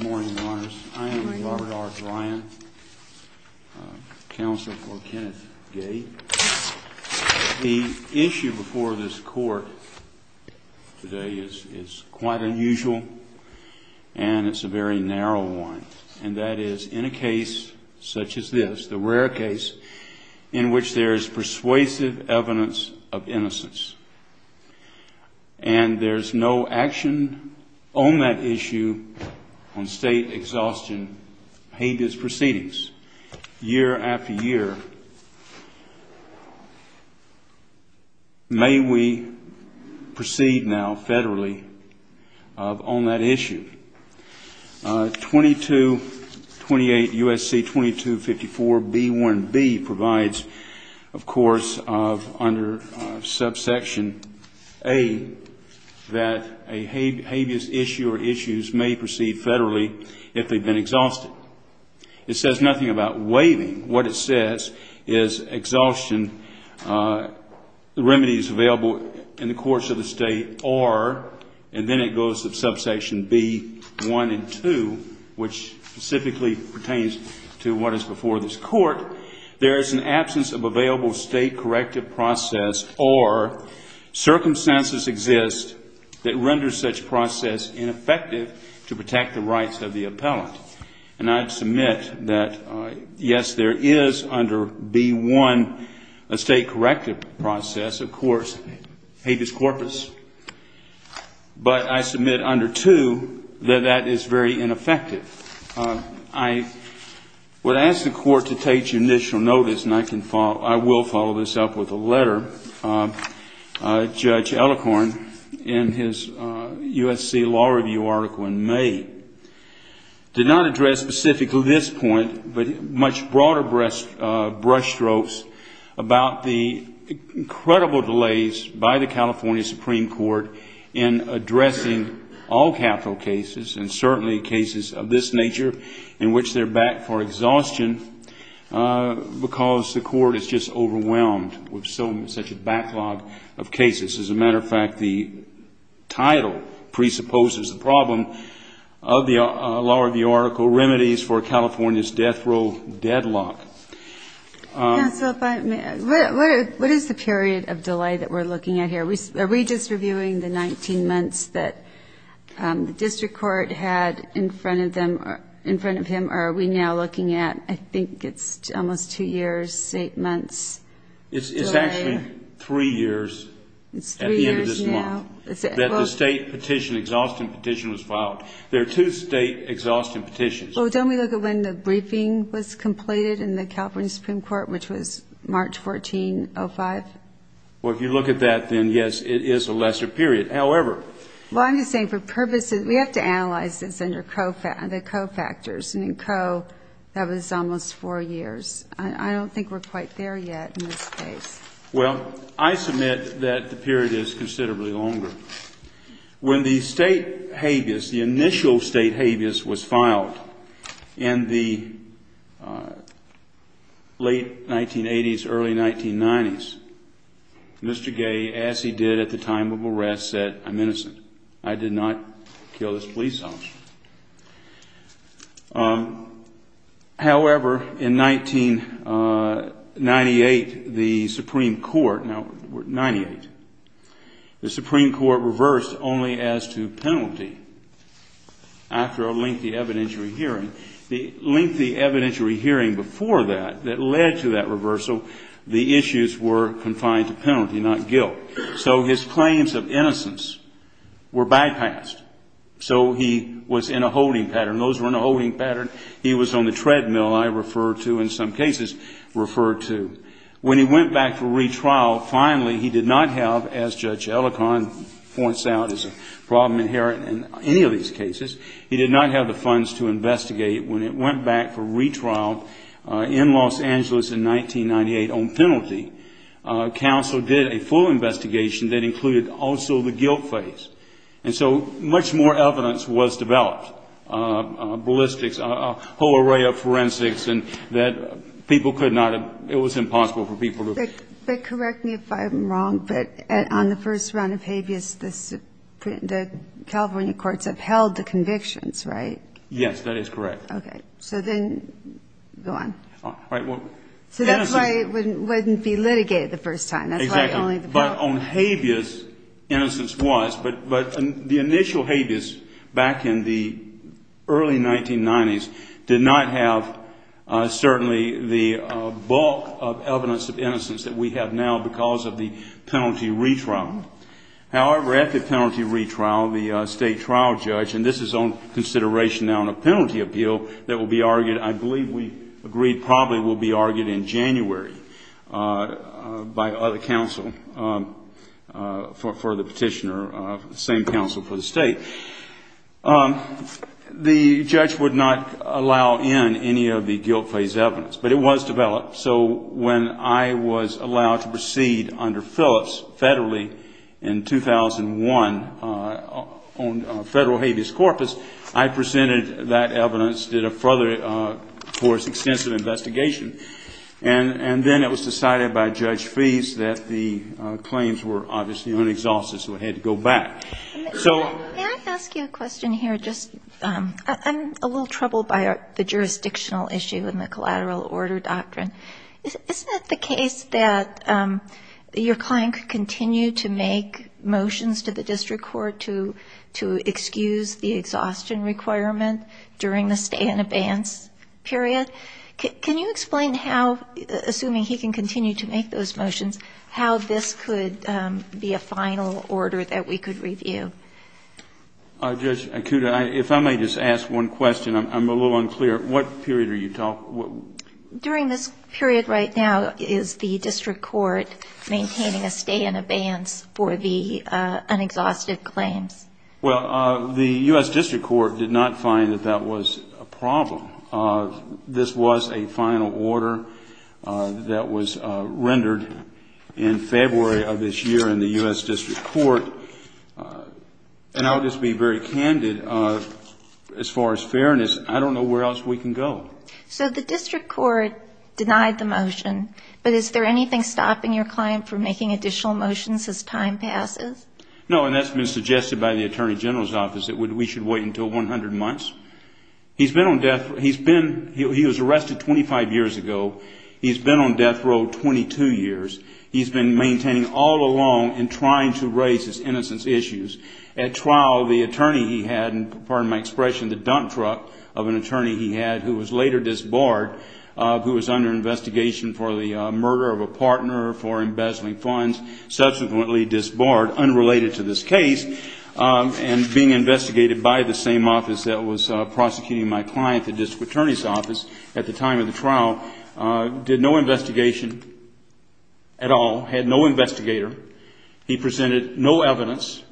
Good morning, Your Honors. I am Robert R. Bryan, Counsel for Kenneth Gay. The issue before this Court today is quite unusual, and it's a very narrow one. And that is, in a case such as this, the rare case, in which there is persuasive evidence of innocence, and there's no action on that issue on state exhaustion pages proceedings, year after year. May we proceed now federally on that issue. 2228 U.S.C. 2254 B1B provides, of course, under subsection A, that a habeas issue or issues may proceed federally if they've been exhausted. It says nothing about waiving. What it says is, exhaustion, the remedies available in the courts of the state are, and then it goes to subsection B1 and 2, which specifically pertains to what is before this Court, there is an absence of available state corrective process, or circumstances exist that render such process ineffective to protect the rights of the appellant. And I submit that, yes, there is under B1 a state corrective process, of course, habeas corpus. But I submit under 2 that that is very ineffective. I would ask the Court to take initial notice, and I can follow, I will follow this up with a letter, Judge Ellicorn, in his U.S.C. Law Review article in May, did not address specifically this point, but much broader brush strokes about the incredible delays by the California Supreme Court in addressing all capital cases, and certainly cases of this nature in which they're back for exhaustion, because the Court is just overwhelmed with such a backlog of cases. As a matter of fact, the title presupposes the problem of the Law Review article, Remedies for California's Death Row Deadlock. Yeah, so if I may, what is the period of delay that we're looking at here? Are we just reviewing the 19 months that the district court had in front of them, in front of him, or are we now looking at, I think it's almost two years, eight months delay? It's actually three years at the end of this month. It's three years now. That the state petition, exhaustion petition was filed. There are two state exhaustion petitions. Well, don't we look at when the briefing was completed in the California Supreme Court, which was March 14, 05? Well, if you look at that, then, yes, it is a lesser period. However, Well, I'm just saying for purposes, we have to analyze this under cofactors, and in co, that was almost four years. I don't think we're quite there yet in this case. Well, I submit that the period is considerably longer. When the state habeas, the initial state habeas, was filed in the late 1980s, early 1990s, Mr. Gay, as he did at the time of arrest, said, I'm innocent. I did not kill this police officer. However, in 1998, the Supreme Court, now, 98, the Supreme Court reversed only as to penalty after a lengthy evidentiary hearing. The lengthy evidentiary hearing before that, that led to that reversal, the issues were confined to penalty, not guilt. So his claims of innocence were bypassed. So he was in a holding pattern. Those were in a holding pattern. He was on the treadmill, I refer to, in some cases, referred to. When he went back for retrial, finally, he did not have, as Judge Ellicott points out is a problem inherent in any of these cases, he did not have the funds to investigate. When it went back for retrial in Los Angeles in 1998 on penalty, counsel did a full investigation that included also the guilt phase. And so much more evidence was developed, ballistics, a whole array of forensics, and that people could not have, it was impossible for people to. But correct me if I'm wrong, but on the first round of habeas, the California courts upheld the convictions, right? Yes, that is correct. Okay. So then go on. All right. So that's why it wouldn't be litigated the first time. Exactly. But on habeas, innocence was. But the initial habeas back in the early 1990s did not have certainly the bulk of evidence of innocence that we have now because of the penalty retrial. However, at the penalty retrial, the state trial judge, and this is on consideration now in a penalty appeal that will be argued, I believe we agreed probably will be argued in January by other counsel for the petitioner, the same counsel for the state. The judge would not allow in any of the guilt phase evidence, but it was developed. So when I was allowed to proceed under Phillips federally in 2001 on federal habeas corpus, I presented that evidence, did a further, of course, extensive investigation. And then it was decided by Judge Feist that the claims were obviously unexhausted, so it had to go back. Can I ask you a question here? I'm a little troubled by the jurisdictional issue in the collateral order doctrine. Isn't it the case that your client could continue to make motions to the district court to excuse the exhaustion requirement during the stay in abeyance period? Can you explain how, assuming he can continue to make those motions, how this could be a final order that we could review? Judge Acuda, if I may just ask one question. I'm a little unclear. What period are you talking? During this period right now, is the district court maintaining a stay in abeyance for the unexhausted claims? Well, the U.S. district court did not find that that was a problem. This was a final order that was rendered in February of this year in the U.S. district court. And I'll just be very candid, as far as fairness, I don't know where else we can go. So the district court denied the motion. But is there anything stopping your client from making additional motions as time passes? No, and that's been suggested by the attorney general's office, that we should wait until 100 months. He's been on death row. He was arrested 25 years ago. He's been on death row 22 years. He's been maintaining all along and trying to raise his innocence issues. At trial, the attorney he had, and pardon my expression, the dump truck of an attorney he had, who was later disbarred, who was under investigation for the murder of a partner for embezzling funds, subsequently disbarred, unrelated to this case, and being investigated by the same office that was prosecuting my client, the district attorney's office, at the time of the trial, did no investigation at all, had no investigator. He presented no evidence.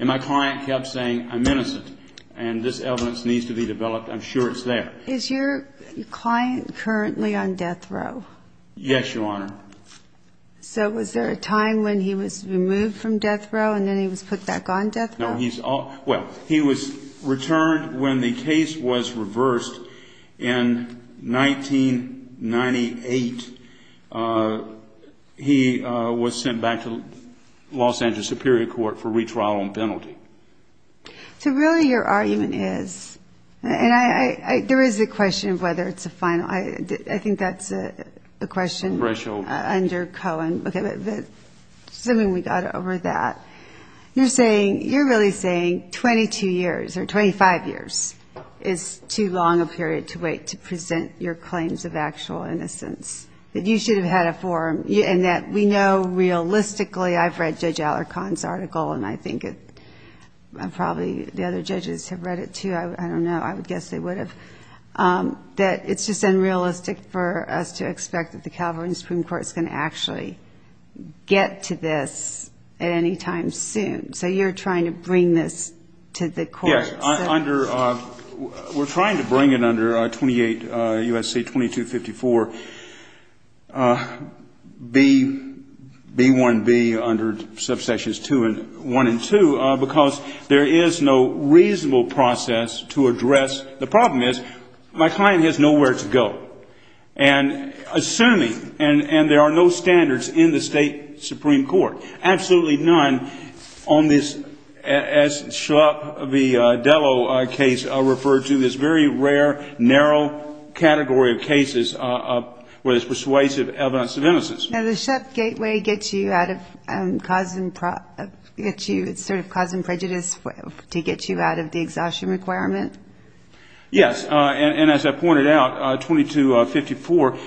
And my client kept saying, I'm innocent, and this evidence needs to be developed. I'm sure it's there. Is your client currently on death row? Yes, Your Honor. So was there a time when he was removed from death row and then he was put back on death row? No. Well, he was returned when the case was reversed in 1998. He was sent back to Los Angeles Superior Court for retrial on penalty. So really your argument is, and there is a question of whether it's a final. I think that's a question under Cohen. Assuming we got over that. You're saying, you're really saying 22 years or 25 years is too long a period to wait to present your claims of actual innocence, that you should have had a forum, and that we know realistically, I've read Judge Alarcon's article, and I think probably the other judges have read it too. I don't know. I would guess they would have. That it's just unrealistic for us to expect that the California Supreme Court is going to actually get to this at any time soon. So you're trying to bring this to the court. Yes. We're trying to bring it under 28 U.S.C. 2254 B1B under subsections 2 and 1 and 2, because there is no reasonable process to address. The problem is my client has nowhere to go. And assuming, and there are no standards in the state Supreme Court, absolutely none on this, as Shlop, the Delo case referred to, this very rare, narrow category of cases where there's persuasive evidence of innocence. Now, the Shlop gateway gets you out of causing prejudice to get you out of the exhaustion requirement? Yes. And as I pointed out, 2254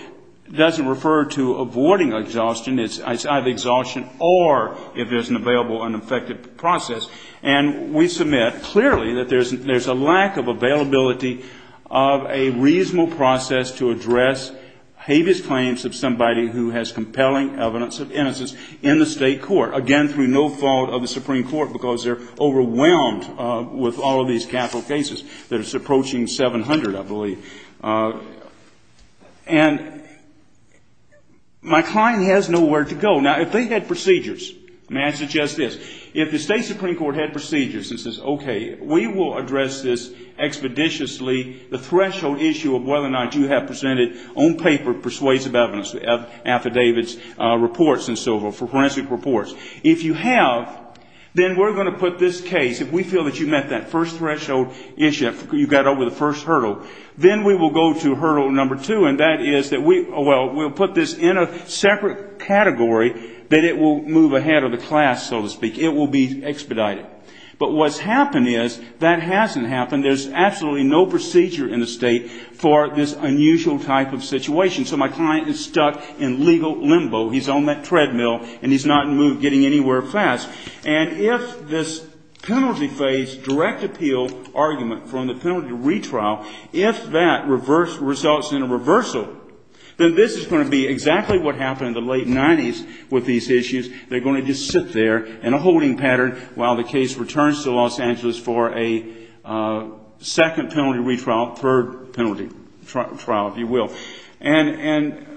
doesn't refer to avoiding exhaustion. It's either exhaustion or if there's an available unaffected process. And we submit clearly that there's a lack of availability of a reasonable process to address habeas claims of somebody who has compelling evidence of innocence in the state court, again, through no fault of the Supreme Court, because they're overwhelmed with all of these capital cases that are approaching 700, I believe. And my client has nowhere to go. Now, if they had procedures, may I suggest this? If the state Supreme Court had procedures and says, okay, we will address this expeditiously, the threshold issue of whether or not you have presented on paper persuasive evidence, affidavits, reports and so forth, if you have, then we're going to put this case, if we feel that you met that first threshold issue, you got over the first hurdle, then we will go to hurdle number two, and that is that we, well, we'll put this in a separate category that it will move ahead of the class, so to speak. It will be expedited. But what's happened is that hasn't happened. There's absolutely no procedure in the state for this unusual type of situation. So my client is stuck in legal limbo. He's on that treadmill, and he's not getting anywhere fast. And if this penalty phase direct appeal argument from the penalty retrial, if that results in a reversal, then this is going to be exactly what happened in the late 90s with these issues. They're going to just sit there in a holding pattern while the case returns to Los Angeles for a second penalty retrial, third penalty trial, if you will. And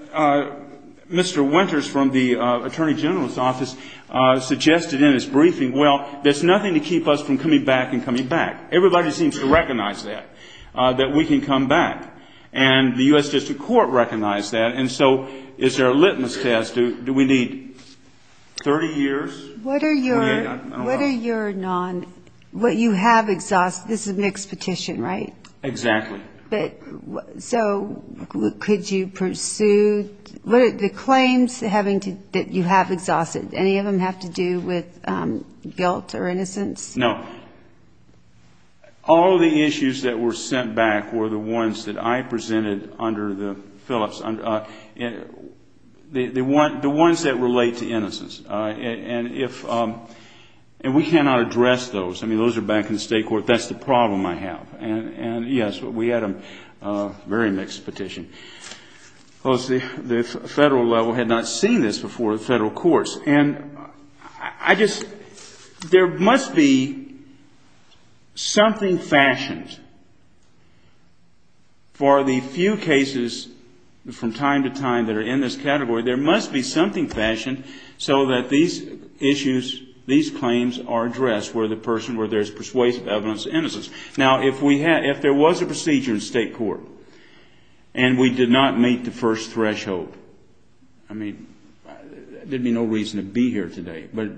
Mr. Winters from the Attorney General's office suggested in his briefing, well, there's nothing to keep us from coming back and coming back. Everybody seems to recognize that, that we can come back. And the U.S. District Court recognized that. And so is there a litmus test? Do we need 30 years? What are your non what you have exhausted? This is a mixed petition, right? Exactly. So could you pursue the claims that you have exhausted? Any of them have to do with guilt or innocence? No. All of the issues that were sent back were the ones that I presented under the Phillips, the ones that relate to innocence. And we cannot address those. I mean, those are back in the State Court. That's the problem I have. And, yes, we had a very mixed petition. The Federal level had not seen this before the Federal courts. And I just, there must be something fashioned for the few cases from time to time that are in this category. There must be something fashioned so that these issues, these claims are addressed where the person, where there's persuasive evidence of innocence. Now, if we had, if there was a procedure in State Court and we did not meet the first threshold, I mean, there would be no reason to be here today. But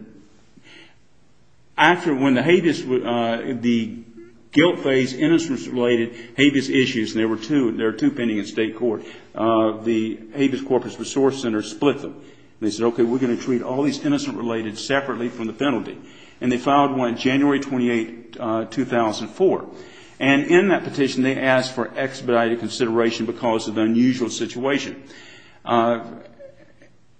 after when the Habeas, the guilt phase, innocence related Habeas issues, and there were two, there are two pending in State Court, the Habeas Corpus Resource Center split them. They said, okay, we're going to treat all these innocence related separately from the penalty. And they filed one January 28, 2004. And in that petition, they asked for expedited consideration because of the unusual situation.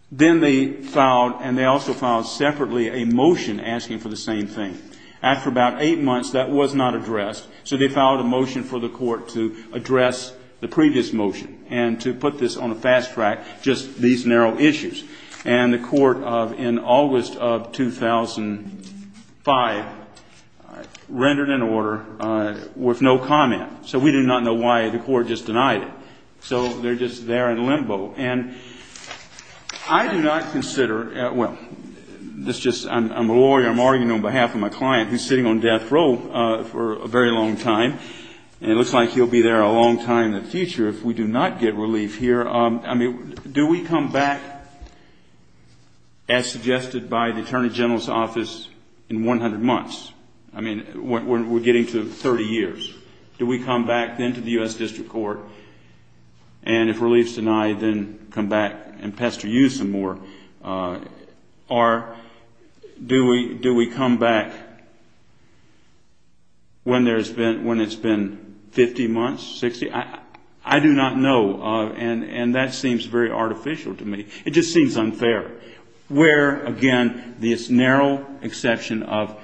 Then they filed, and they also filed separately, a motion asking for the same thing. After about eight months, that was not addressed. So they filed a motion for the court to address the previous motion and to put this on a fast track, just these narrow issues. And the court in August of 2005 rendered an order with no comment. So we do not know why the court just denied it. So they're just there in limbo. And I do not consider, well, this just, I'm a lawyer, I'm arguing on behalf of my client who's sitting on death row for a very long time. And it looks like he'll be there a long time in the future if we do not get relief here. I mean, do we come back, as suggested by the Attorney General's office, in 100 months? I mean, we're getting to 30 years. Do we come back then to the U.S. District Court, and if relief's denied, then come back and pester you some more? Or do we come back when it's been 50 months, 60? I do not know, and that seems very artificial to me. It just seems unfair, where, again, this narrow exception of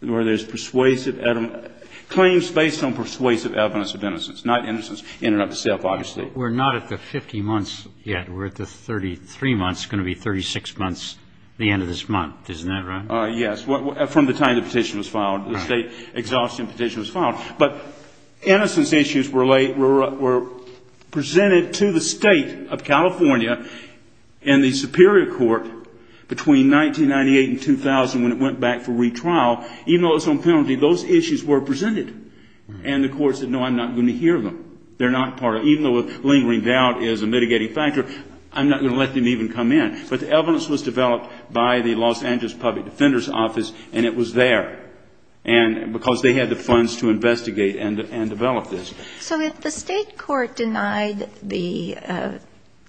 where there's persuasive claims based on persuasive evidence of innocence, not innocence in and of itself, obviously. We're not at the 50 months yet. We're at the 33 months. It's going to be 36 months at the end of this month. Isn't that right? Yes. From the time the petition was filed, the State Exhaustion Petition was filed. But innocence issues were presented to the State of California in the Superior Court between 1998 and 2000 when it went back for retrial. Even though it was on penalty, those issues were presented. And the courts said, no, I'm not going to hear them. They're not part of it. Even though a lingering doubt is a mitigating factor, I'm not going to let them even come in. But the evidence was developed by the Los Angeles Public Defender's Office, and it was there. And because they had the funds to investigate and develop this. So if the state court denied the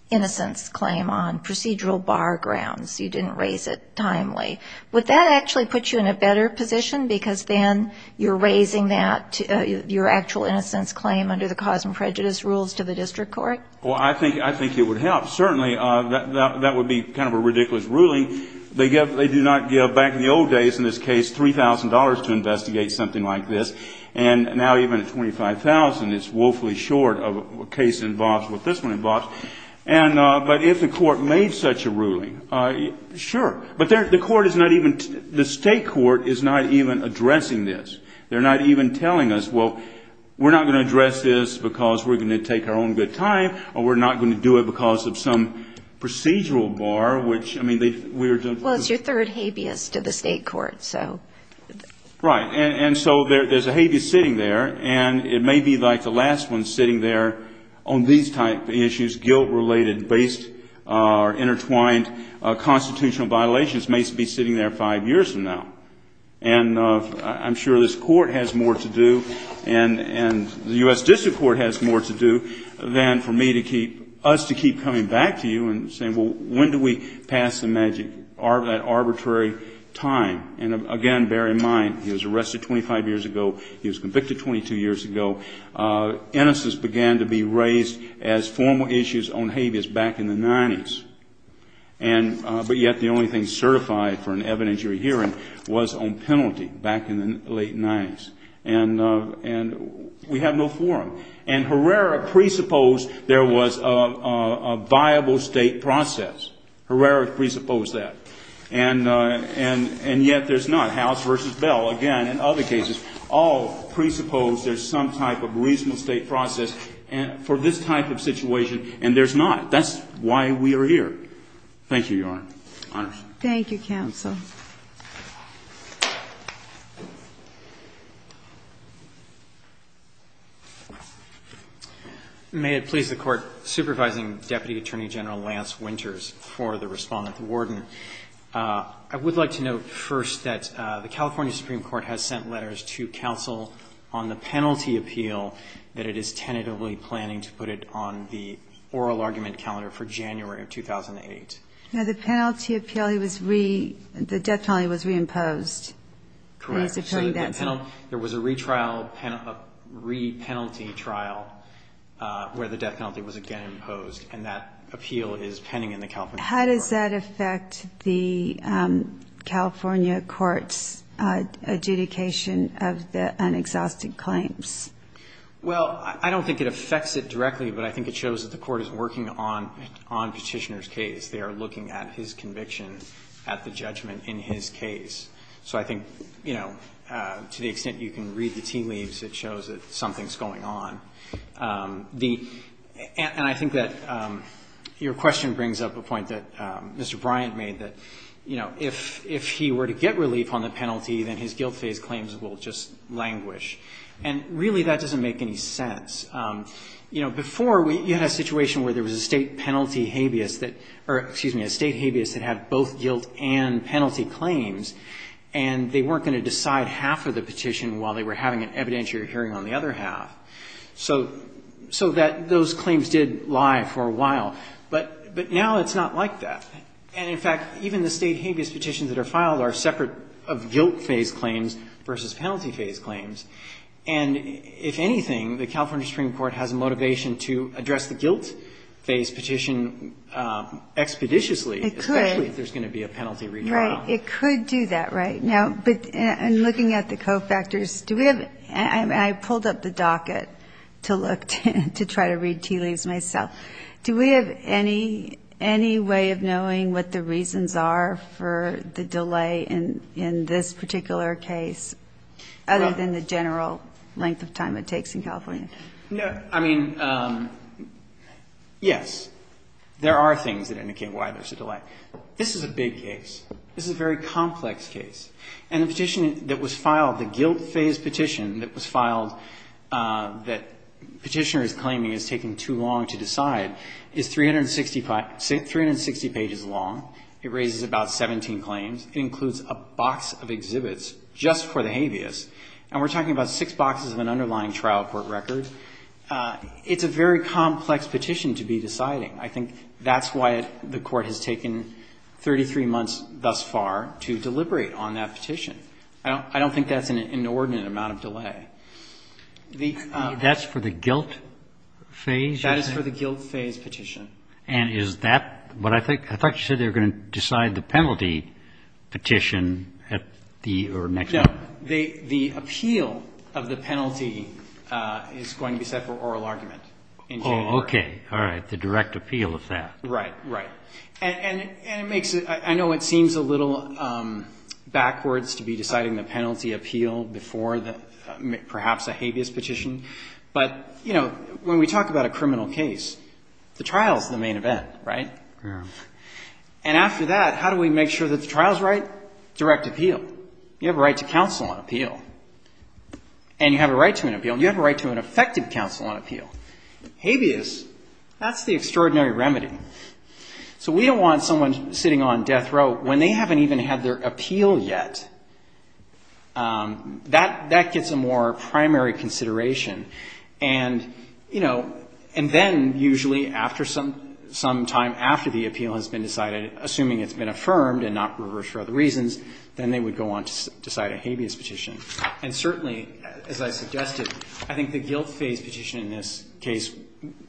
innocence claim on procedural bar grounds, you didn't raise it timely, would that actually put you in a better position because then you're raising that, your actual innocence claim under the cause and prejudice rules to the district court? Well, I think it would help, certainly. That would be kind of a ridiculous ruling. They do not give, back in the old days in this case, $3,000 to investigate something like this. And now even at $25,000, it's woefully short of what this one involves. But if the court made such a ruling, sure. But the state court is not even addressing this. They're not even telling us, well, we're not going to address this because we're going to take our own good time or we're not going to do it because of some procedural bar, which, I mean, we were doing. Well, it's your third habeas to the state court, so. Right. And so there's a habeas sitting there, and it may be like the last one sitting there on these type of issues, guilt-related based or intertwined constitutional violations may be sitting there five years from now. And I'm sure this court has more to do and the U.S. District Court has more to do than for me to keep, us to keep coming back to you and saying, well, when do we pass the magic, that arbitrary time? And, again, bear in mind, he was arrested 25 years ago, he was convicted 22 years ago. Innocence began to be raised as formal issues on habeas back in the 90s. And but yet the only thing certified for an evidentiary hearing was on penalty back in the late 90s. And we have no forum. And Herrera presupposed there was a viable state process. Herrera presupposed that. And yet there's not. And the ability to enforce this, to do this, to do that, to do this, to do that, to do that, to do this, to do that, is not here. Thank you, Your Honor. Thank you, counsel. May it please the Court, supervising Deputy Attorney General Lance Winters for the respondent, the warden, I would like to note first that the California Supreme Court has sent letters to counsel on the penalty appeal that it is tentatively planning to put it on the oral argument calendar for January of 2008. Now the penalty appeal, the death penalty was reimposed. Correct. There was a re-penalty trial where the death penalty was again imposed, and that appeal is pending in the California Supreme Court. How does that affect the California court's adjudication of the unexhausted claims? Well, I don't think it affects it directly, but I think it shows that the court is working on Petitioner's case. They are looking at his conviction, at the judgment in his case. So I think, you know, to the extent you can read the tea leaves, it shows that something's going on. And I think that your question brings up a point that Mr. Bryant made, that, you know, if he were to get relief on the penalty, then his guilt phase claims will just languish. And really that doesn't make any sense. You know, before, you had a situation where there was a State penalty habeas that or, excuse me, a State habeas that had both guilt and penalty claims, and they weren't going to decide half of the petition while they were having an evidentiary hearing on the other half. So that those claims did lie for a while. But now it's not like that. And, in fact, even the State habeas petitions that are filed are separate of guilt-phase claims versus penalty-phase claims. And if anything, the California Supreme Court has a motivation to address the guilt-phase petition expeditiously, especially if there's going to be a penalty remodeled. It could do that, right. Now, in looking at the cofactors, do we have, and I pulled up the docket to look to try to read tea leaves myself, do we have any way of knowing what the reasons are for the delay in this particular case, other than the general length of time it takes in California? I mean, yes, there are things that indicate why there's a delay. This is a big case. This is a very complex case. And the petition that was filed, the guilt-phase petition that was filed that Petitioner is claiming is taking too long to decide is 360 pages long. It raises about 17 claims. It includes a box of exhibits just for the habeas. And we're talking about six boxes of an underlying trial court record. It's a very complex petition to be deciding. I think that's why the Court has taken 33 months thus far to deliberate on that petition. I don't think that's an inordinate amount of delay. The next one. That's for the guilt phase? That is for the guilt-phase petition. And is that what I think? I thought you said they were going to decide the penalty petition at the or next month. No. The appeal of the penalty is going to be set for oral argument in January. Oh, okay. All right. The direct appeal of that. Right. Right. And it makes it ‑‑ I know it seems a little backwards to be deciding the penalty appeal before perhaps a habeas petition. But, you know, when we talk about a criminal case, the trial is the main event, right? Yeah. And after that, how do we make sure that the trial is right? Direct appeal. You have a right to counsel on appeal. And you have a right to an appeal. And you have a right to an effective counsel on appeal. Habeas, that's the extraordinary remedy. So we don't want someone sitting on death row when they haven't even had their appeal yet. That gets a more primary consideration. And, you know, and then usually after some time after the appeal has been decided, assuming it's been affirmed and not reversed for other reasons, then they would go on to decide a habeas petition. And certainly, as I suggested, I think the guilt phase petition in this case,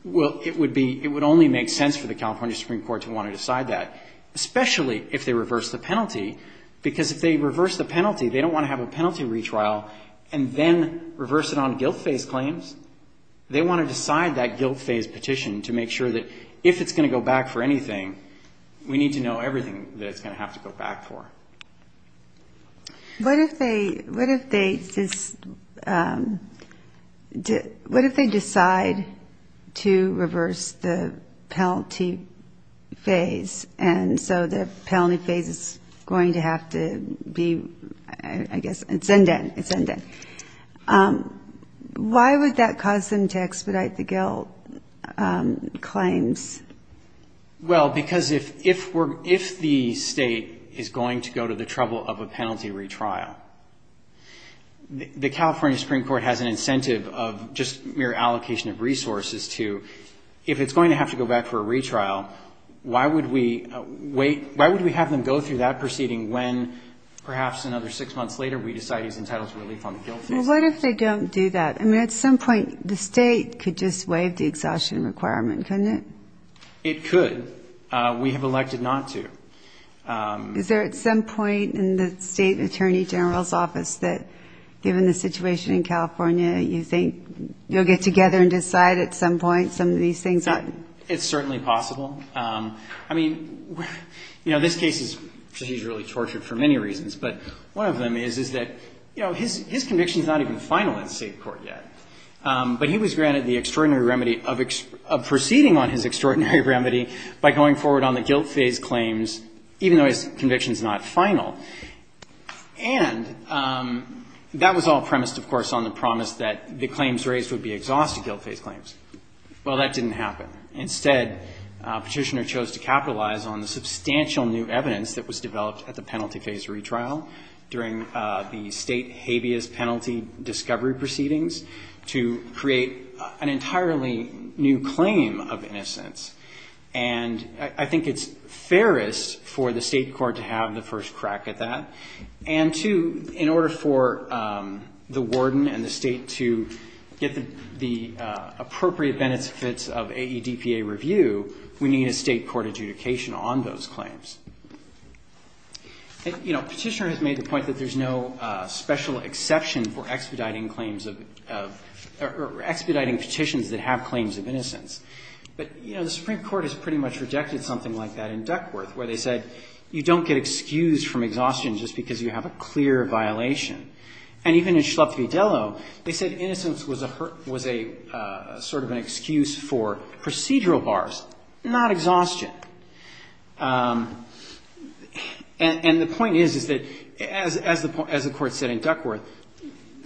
it would only make sense for the California Supreme Court to want to decide that, especially if they reverse the penalty. Because if they reverse the penalty, they don't want to have a penalty retrial and then reverse it on guilt phase claims. They want to decide that guilt phase petition to make sure that if it's going to go back for anything, we need to know everything that it's going to have to go back for. What if they decide to reverse the penalty phase, and so the penalty phase is going to have to be, I guess, it's undone. It's undone. Why would that cause them to expedite the guilt claims? Well, because if the State is going to go to the trouble of a penalty retrial, the California Supreme Court has an incentive of just mere allocation of resources to, if it's going to have to go back for a retrial, why would we wait? Why would we have them go through that proceeding when perhaps another six months later we decide he's entitled to relief on the guilt phase? Well, what if they don't do that? Well, I mean, at some point the State could just waive the exhaustion requirement, couldn't it? It could. We have elected not to. Is there at some point in the State Attorney General's office that, given the situation in California, you think you'll get together and decide at some point some of these things? It's certainly possible. I mean, you know, this case is strategically tortured for many reasons, but one of them is, is that, you know, his conviction is not even final in State court yet. But he was granted the extraordinary remedy of proceeding on his extraordinary remedy by going forward on the guilt phase claims, even though his conviction is not final. And that was all premised, of course, on the promise that the claims raised would be exhaustive guilt phase claims. Well, that didn't happen. Instead, Petitioner chose to capitalize on the substantial new evidence that was developed at the penalty phase retrial during the State habeas penalty discovery proceedings to create an entirely new claim of innocence. And I think it's fairest for the State court to have the first crack at that, And two, in order for the warden and the State to get the appropriate benefits of AEDPA review, we need a State court adjudication on those claims. You know, Petitioner has made the point that there's no special exception for expediting claims of or expediting petitions that have claims of innocence. But, you know, the Supreme Court has pretty much rejected something like that in Duckworth, where they said you don't get excused from exhaustion just because you have a clear violation. And even in Schlupf v. Dello, they said innocence was a sort of an excuse for procedural bars, not exhaustion. And the point is, is that as the court said in Duckworth,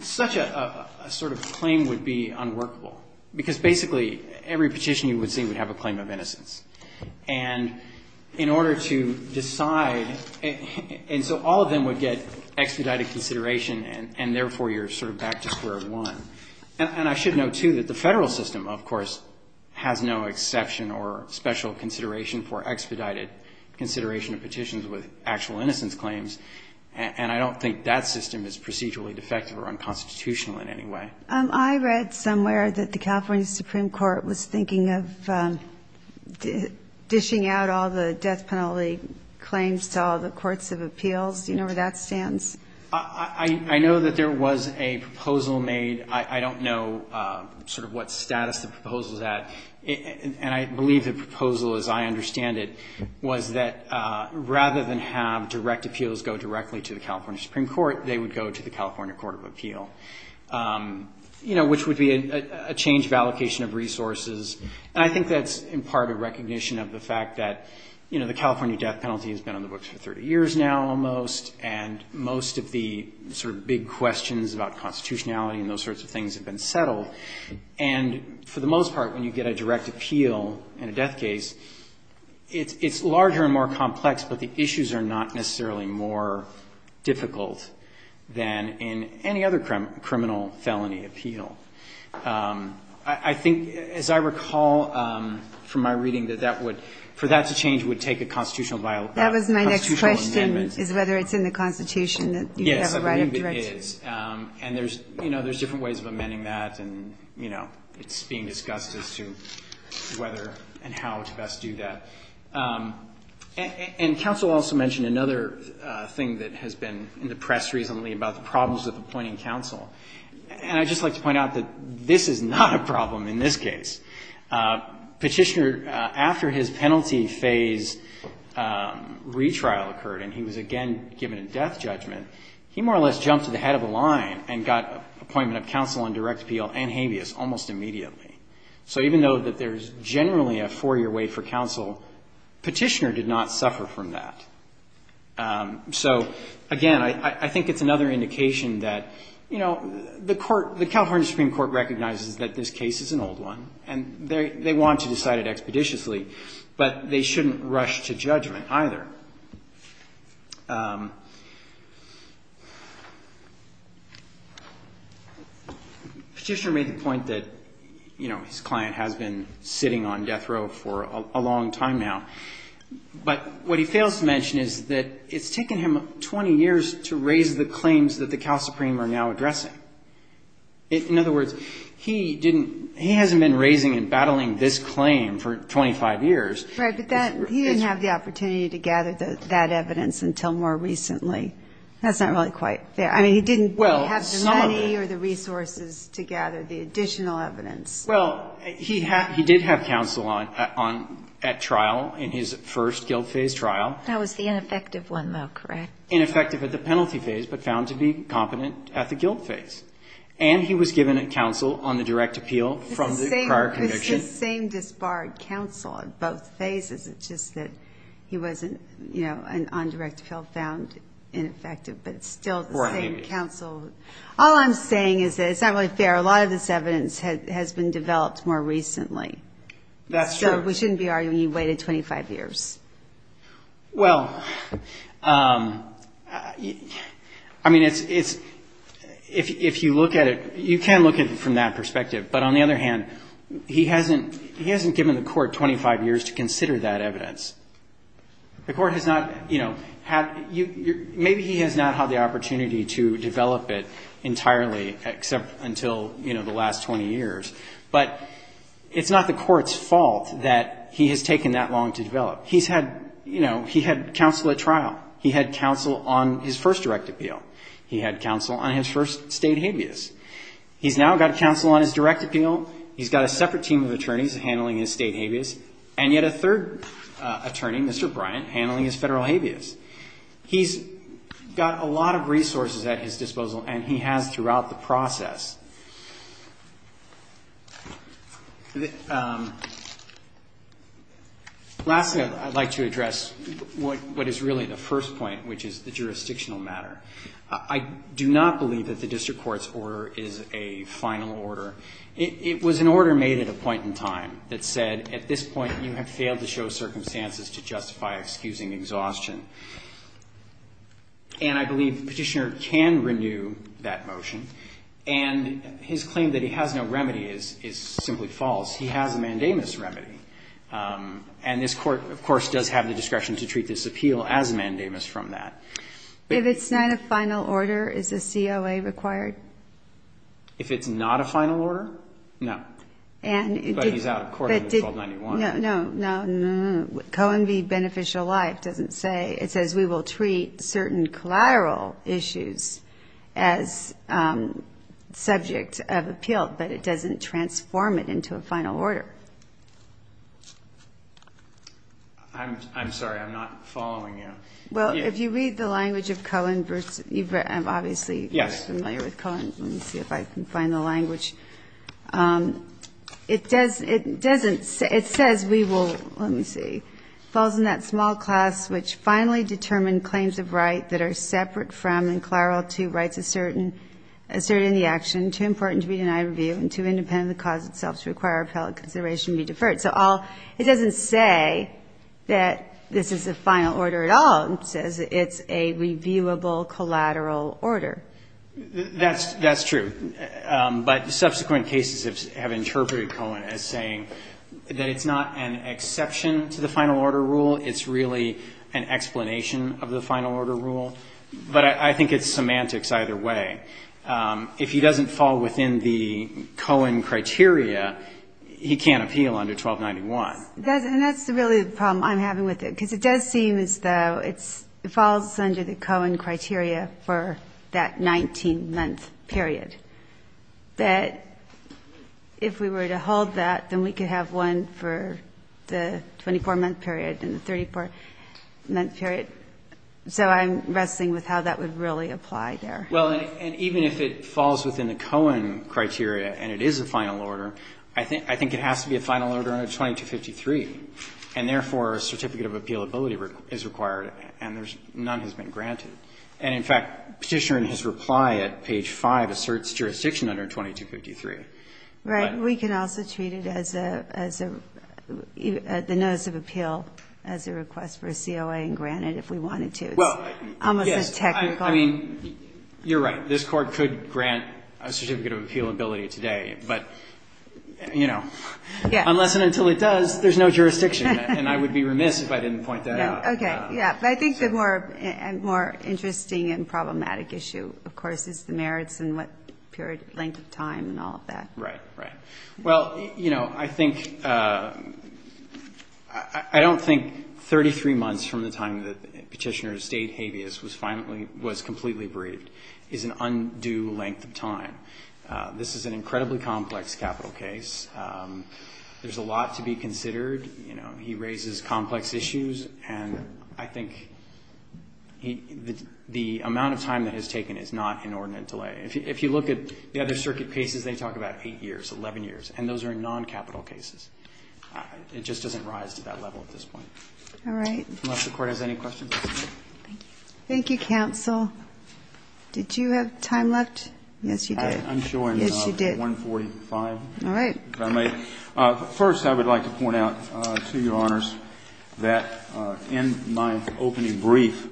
such a sort of claim would be unworkable, because basically every petitioner you would see would have a claim of innocence. And in order to decide, and so all of them would get expedited consideration and therefore you're sort of back to square one. And I should note, too, that the Federal system, of course, has no exception or special consideration for expedited consideration of petitions with actual innocence claims, and I don't think that system is procedurally defective or unconstitutional in any way. I read somewhere that the California Supreme Court was thinking of dishing out all the death penalty claims to all the courts of appeals. Do you know where that stands? I know that there was a proposal made. I don't know sort of what status the proposal is at. And I believe the proposal, as I understand it, was that rather than have direct appeals go directly to the California Supreme Court, they would go to the California Court of Appeal. You know, which would be a change of allocation of resources, and I think that's in part a recognition of the fact that, you know, the California death penalty has been on the books for 30 years now almost, and most of the sort of big questions about constitutionality and those sorts of things have been settled. And for the most part, when you get a direct appeal in a death case, it's larger and more complex, but the issues are not necessarily more difficult than in any other criminal felony appeal. I think, as I recall from my reading, that that would, for that to change, it would take a constitutional amendment. That was my next question, is whether it's in the Constitution that you have a right of direct appeal. Yes, I believe it is. And there's, you know, there's different ways of amending that, and, you know, it's being discussed as to whether and how to best do that. And counsel also mentioned another thing that has been in the press recently about the problems with appointing counsel. And I'd just like to point out that this is not a problem in this case. Petitioner, after his penalty phase retrial occurred, and he was again given a death judgment, he more or less jumped to the head of the line and got appointment of counsel on direct appeal and habeas almost immediately. So even though that there's generally a four-year wait for counsel, Petitioner did not suffer from that. So, again, I think it's another indication that, you know, the Court, the California Supreme Court recognizes that this case is an old one, and they want to decide it expeditiously, but they shouldn't rush to judgment either. Petitioner made the point that, you know, his client has been sitting on death row for a long time now. But what he fails to mention is that it's taken him 20 years to raise the claims that the Cal Supreme are now addressing. In other words, he didn't he hasn't been raising and battling this claim for 25 years. Right. But he didn't have the opportunity to gather that evidence until more recently. That's not really quite fair. I mean, he didn't have the money or the resources to gather the additional evidence. Well, he did have counsel at trial in his first guilt phase trial. That was the ineffective one, though, correct? Ineffective at the penalty phase, but found to be competent at the guilt phase. And he was given counsel on the direct appeal from the prior conviction. It's the same disbarred counsel on both phases. It's just that he wasn't, you know, on direct appeal, found ineffective. But it's still the same counsel. All I'm saying is that it's not really fair. A lot of this evidence has been developed more recently. That's true. So we shouldn't be arguing he waited 25 years. Well, I mean, it's if you look at it, you can look at it from that perspective. But on the other hand, he hasn't given the court 25 years to consider that evidence. The court has not, you know, maybe he has not had the opportunity to develop it entirely except until, you know, the last 20 years. But it's not the court's fault that he has taken that long to develop. He's had, you know, he had counsel at trial. He had counsel on his first direct appeal. He had counsel on his first State habeas. He's now got counsel on his direct appeal. He's got a separate team of attorneys handling his State habeas. And yet a third attorney, Mr. Bryant, handling his Federal habeas. He's got a lot of resources at his disposal, and he has throughout the process. Lastly, I'd like to address what is really the first point, which is the jurisdictional matter. I do not believe that the district court's order is a final order. It was an order made at a point in time that said, at this point you have failed to show circumstances to justify excusing exhaustion. And I believe Petitioner can renew that motion. And his claim that he has no remedy is simply false. He has a mandamus remedy. And this Court, of course, does have the discretion to treat this appeal as a mandamus from that. If it's not a final order, is a COA required? If it's not a final order, no. But he's out of court on 1291. No, no, no, no. Cohen v. Beneficial Life doesn't say. It says we will treat certain collateral issues as subject of appeal, but it doesn't transform it into a final order. I'm sorry. I'm not following you. Well, if you read the language of Cohen v. I'm obviously familiar with Cohen. Let me see if I can find the language. It doesn't say, it says we will, let me see, falls in that small class which finally determine claims of right that are separate from and collateral to rights asserted in the action, too important to be denied review, and too independent of the cause itself to require appellate consideration be deferred. So it doesn't say that this is a final order at all. It says it's a reviewable collateral order. That's true. But subsequent cases have interpreted Cohen as saying that it's not an exception to the final order rule, it's really an explanation of the final order rule. But I think it's semantics either way. If he doesn't fall within the Cohen criteria, he can't appeal under 1291. And that's really the problem I'm having with it, because it does seem as though it falls under the Cohen criteria for that 19-month period. That if we were to hold that, then we could have one for the 24-month period and the 34-month period. So I'm wrestling with how that would really apply there. Well, and even if it falls within the Cohen criteria and it is a final order, I think it has to be a final order under 2253. And, therefore, a certificate of appealability is required and none has been granted. And, in fact, Petitioner in his reply at page 5 asserts jurisdiction under 2253. Right. We can also treat it as a notice of appeal as a request for a COA and grant it if we wanted to. It's almost as technical. Well, yes. I mean, you're right. This Court could grant a certificate of appealability today, but, you know, unless and until it does, there's no jurisdiction. And I would be remiss if I didn't point that out. Okay. Yeah. But I think the more interesting and problematic issue, of course, is the merits and what period, length of time and all of that. Right. Right. Well, you know, I think — I don't think 33 months from the time that Petitioner stayed habeas was completely bereaved is an undue length of time. This is an incredibly complex capital case. There's a lot to be considered. You know, he raises complex issues. And I think the amount of time that is taken is not inordinate delay. If you look at the other circuit cases, they talk about 8 years, 11 years. And those are non-capital cases. It just doesn't rise to that level at this point. All right. Unless the Court has any questions. Thank you. Thank you, counsel. Did you have time left? Yes, you did. I'm showing 1.45. All right. If I may. First, I would like to point out to Your Honors that in my opening brief,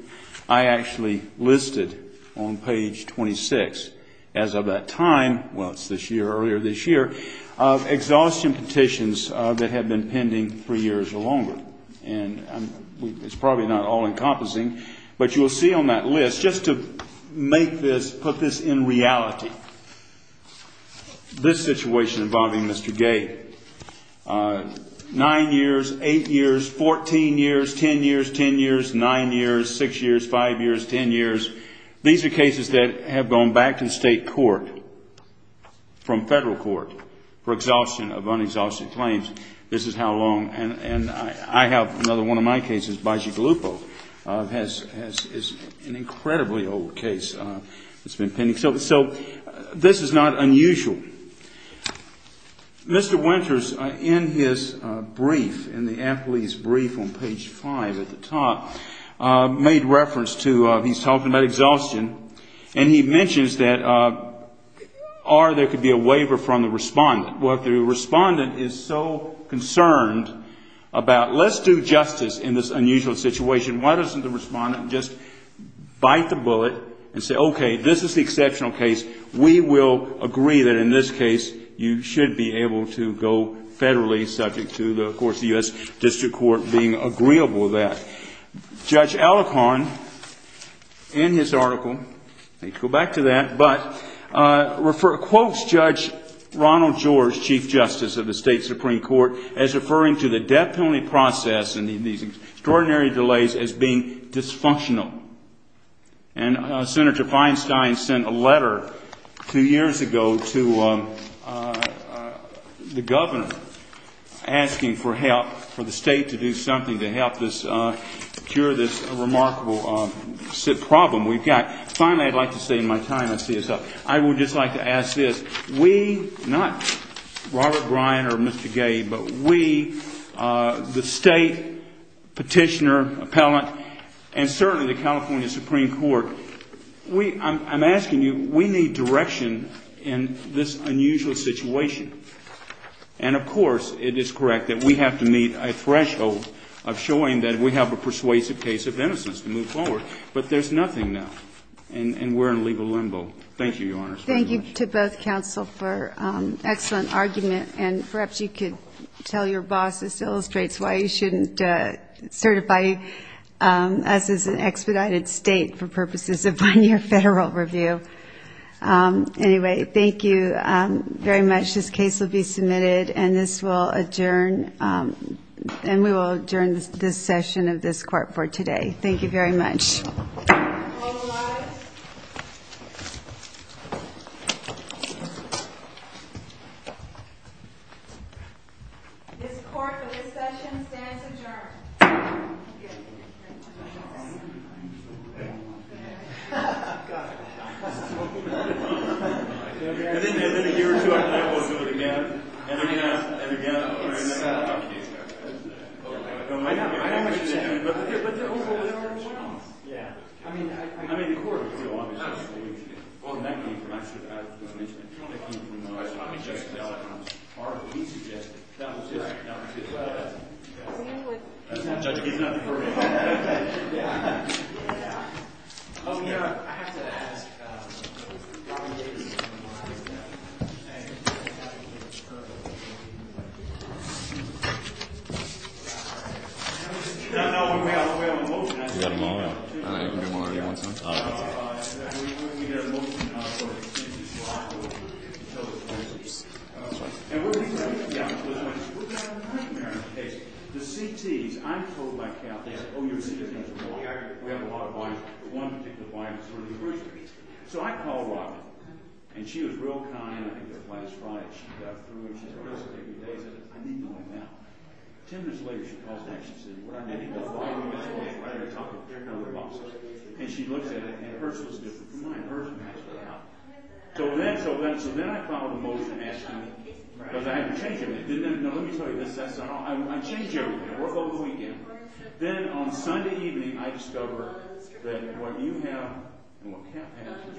I actually listed on page 26, as of that time, well, it's this year, earlier this year, of exhaustion petitions that had been pending 3 years or longer. And it's probably not all-encompassing, but you'll see on that list, just to make this, put this in reality, this situation involving Mr. Gay, 9 years, 8 years, 14 years, 10 years, 10 years, 9 years, 6 years, 5 years, 10 years. These are cases that have gone back to state court, from federal court, for exhaustion of unexhausted claims. This is how long. And I have another one of my cases, Baggi Gallupo, has an incredibly old case that's been pending. So this is not unusual. Mr. Winters, in his brief, in the athlete's brief on page 5 at the top, made reference to, he's talking about exhaustion, and he mentions that, or there could be a waiver from the respondent. Well, the respondent is so concerned about, let's do justice in this unusual situation. Why doesn't the respondent just bite the bullet and say, okay, this is the exceptional case. We will agree that in this case you should be able to go federally, subject to, of course, the U.S. District Court being agreeable with that. Judge Alekharn, in his article, I think we'll go back to that, but, quotes Judge Ronald George, Chief Justice of the State Supreme Court, as referring to the death penalty process and these extraordinary delays as being dysfunctional. And Senator Feinstein sent a letter 2 years ago to the governor, asking for help, for the state to do something to help us cure this remarkable problem we've got. Finally, I'd like to say in my time as CSO, I would just like to ask this. We, not Robert Bryan or Mr. Gay, but we, the state, petitioner, appellant, and certainly the California Supreme Court, we, I'm asking you, we need direction in this unusual situation. And, of course, it is correct that we have to meet a threshold of showing that we have a persuasive case of innocence to move forward. But there's nothing now, and we're in legal limbo. Thank you, Your Honors. Thank you to both counsel for excellent argument. And perhaps you could tell your boss this illustrates why you shouldn't certify us as an expedited State for purposes of one-year Federal review. Anyway, thank you very much. This case will be submitted, and this will adjourn, and we will adjourn this session of this court for today. Thank you very much. This court for this session stands adjourned. And then a year or two after that, we'll do it again. And then you can ask them again. I know, I know what you're saying. But there are other options. I mean, the court will do a lot of things. Well, in that case, I should add, as was mentioned, there are other options. R.P. suggested. That was his. That was his. Judge, he's not the jury. Yeah. Yeah. Oh, yeah. I have to ask. No, no. We have a motion. We have a motion. I know you can do more. Do you want some? No, no. We have a motion. And we're going to have a nightmare in this case. The CTs. I'm told by Kathy. Oh, you're a CT. We have a lot of clients. One particular client. So I call Robin. And she was real kind. I think it was last Friday. She got through. And she said, I need my money now. Ten minutes later, she calls back. She said, what I need my money now. And she looks at it. And hers was different from mine. Hers matched with mine. Because I had to change it. No, let me tell you this. I changed my mind. I changed my mind. Then, on Sunday evening, I discover that what you have and what Kath has is different.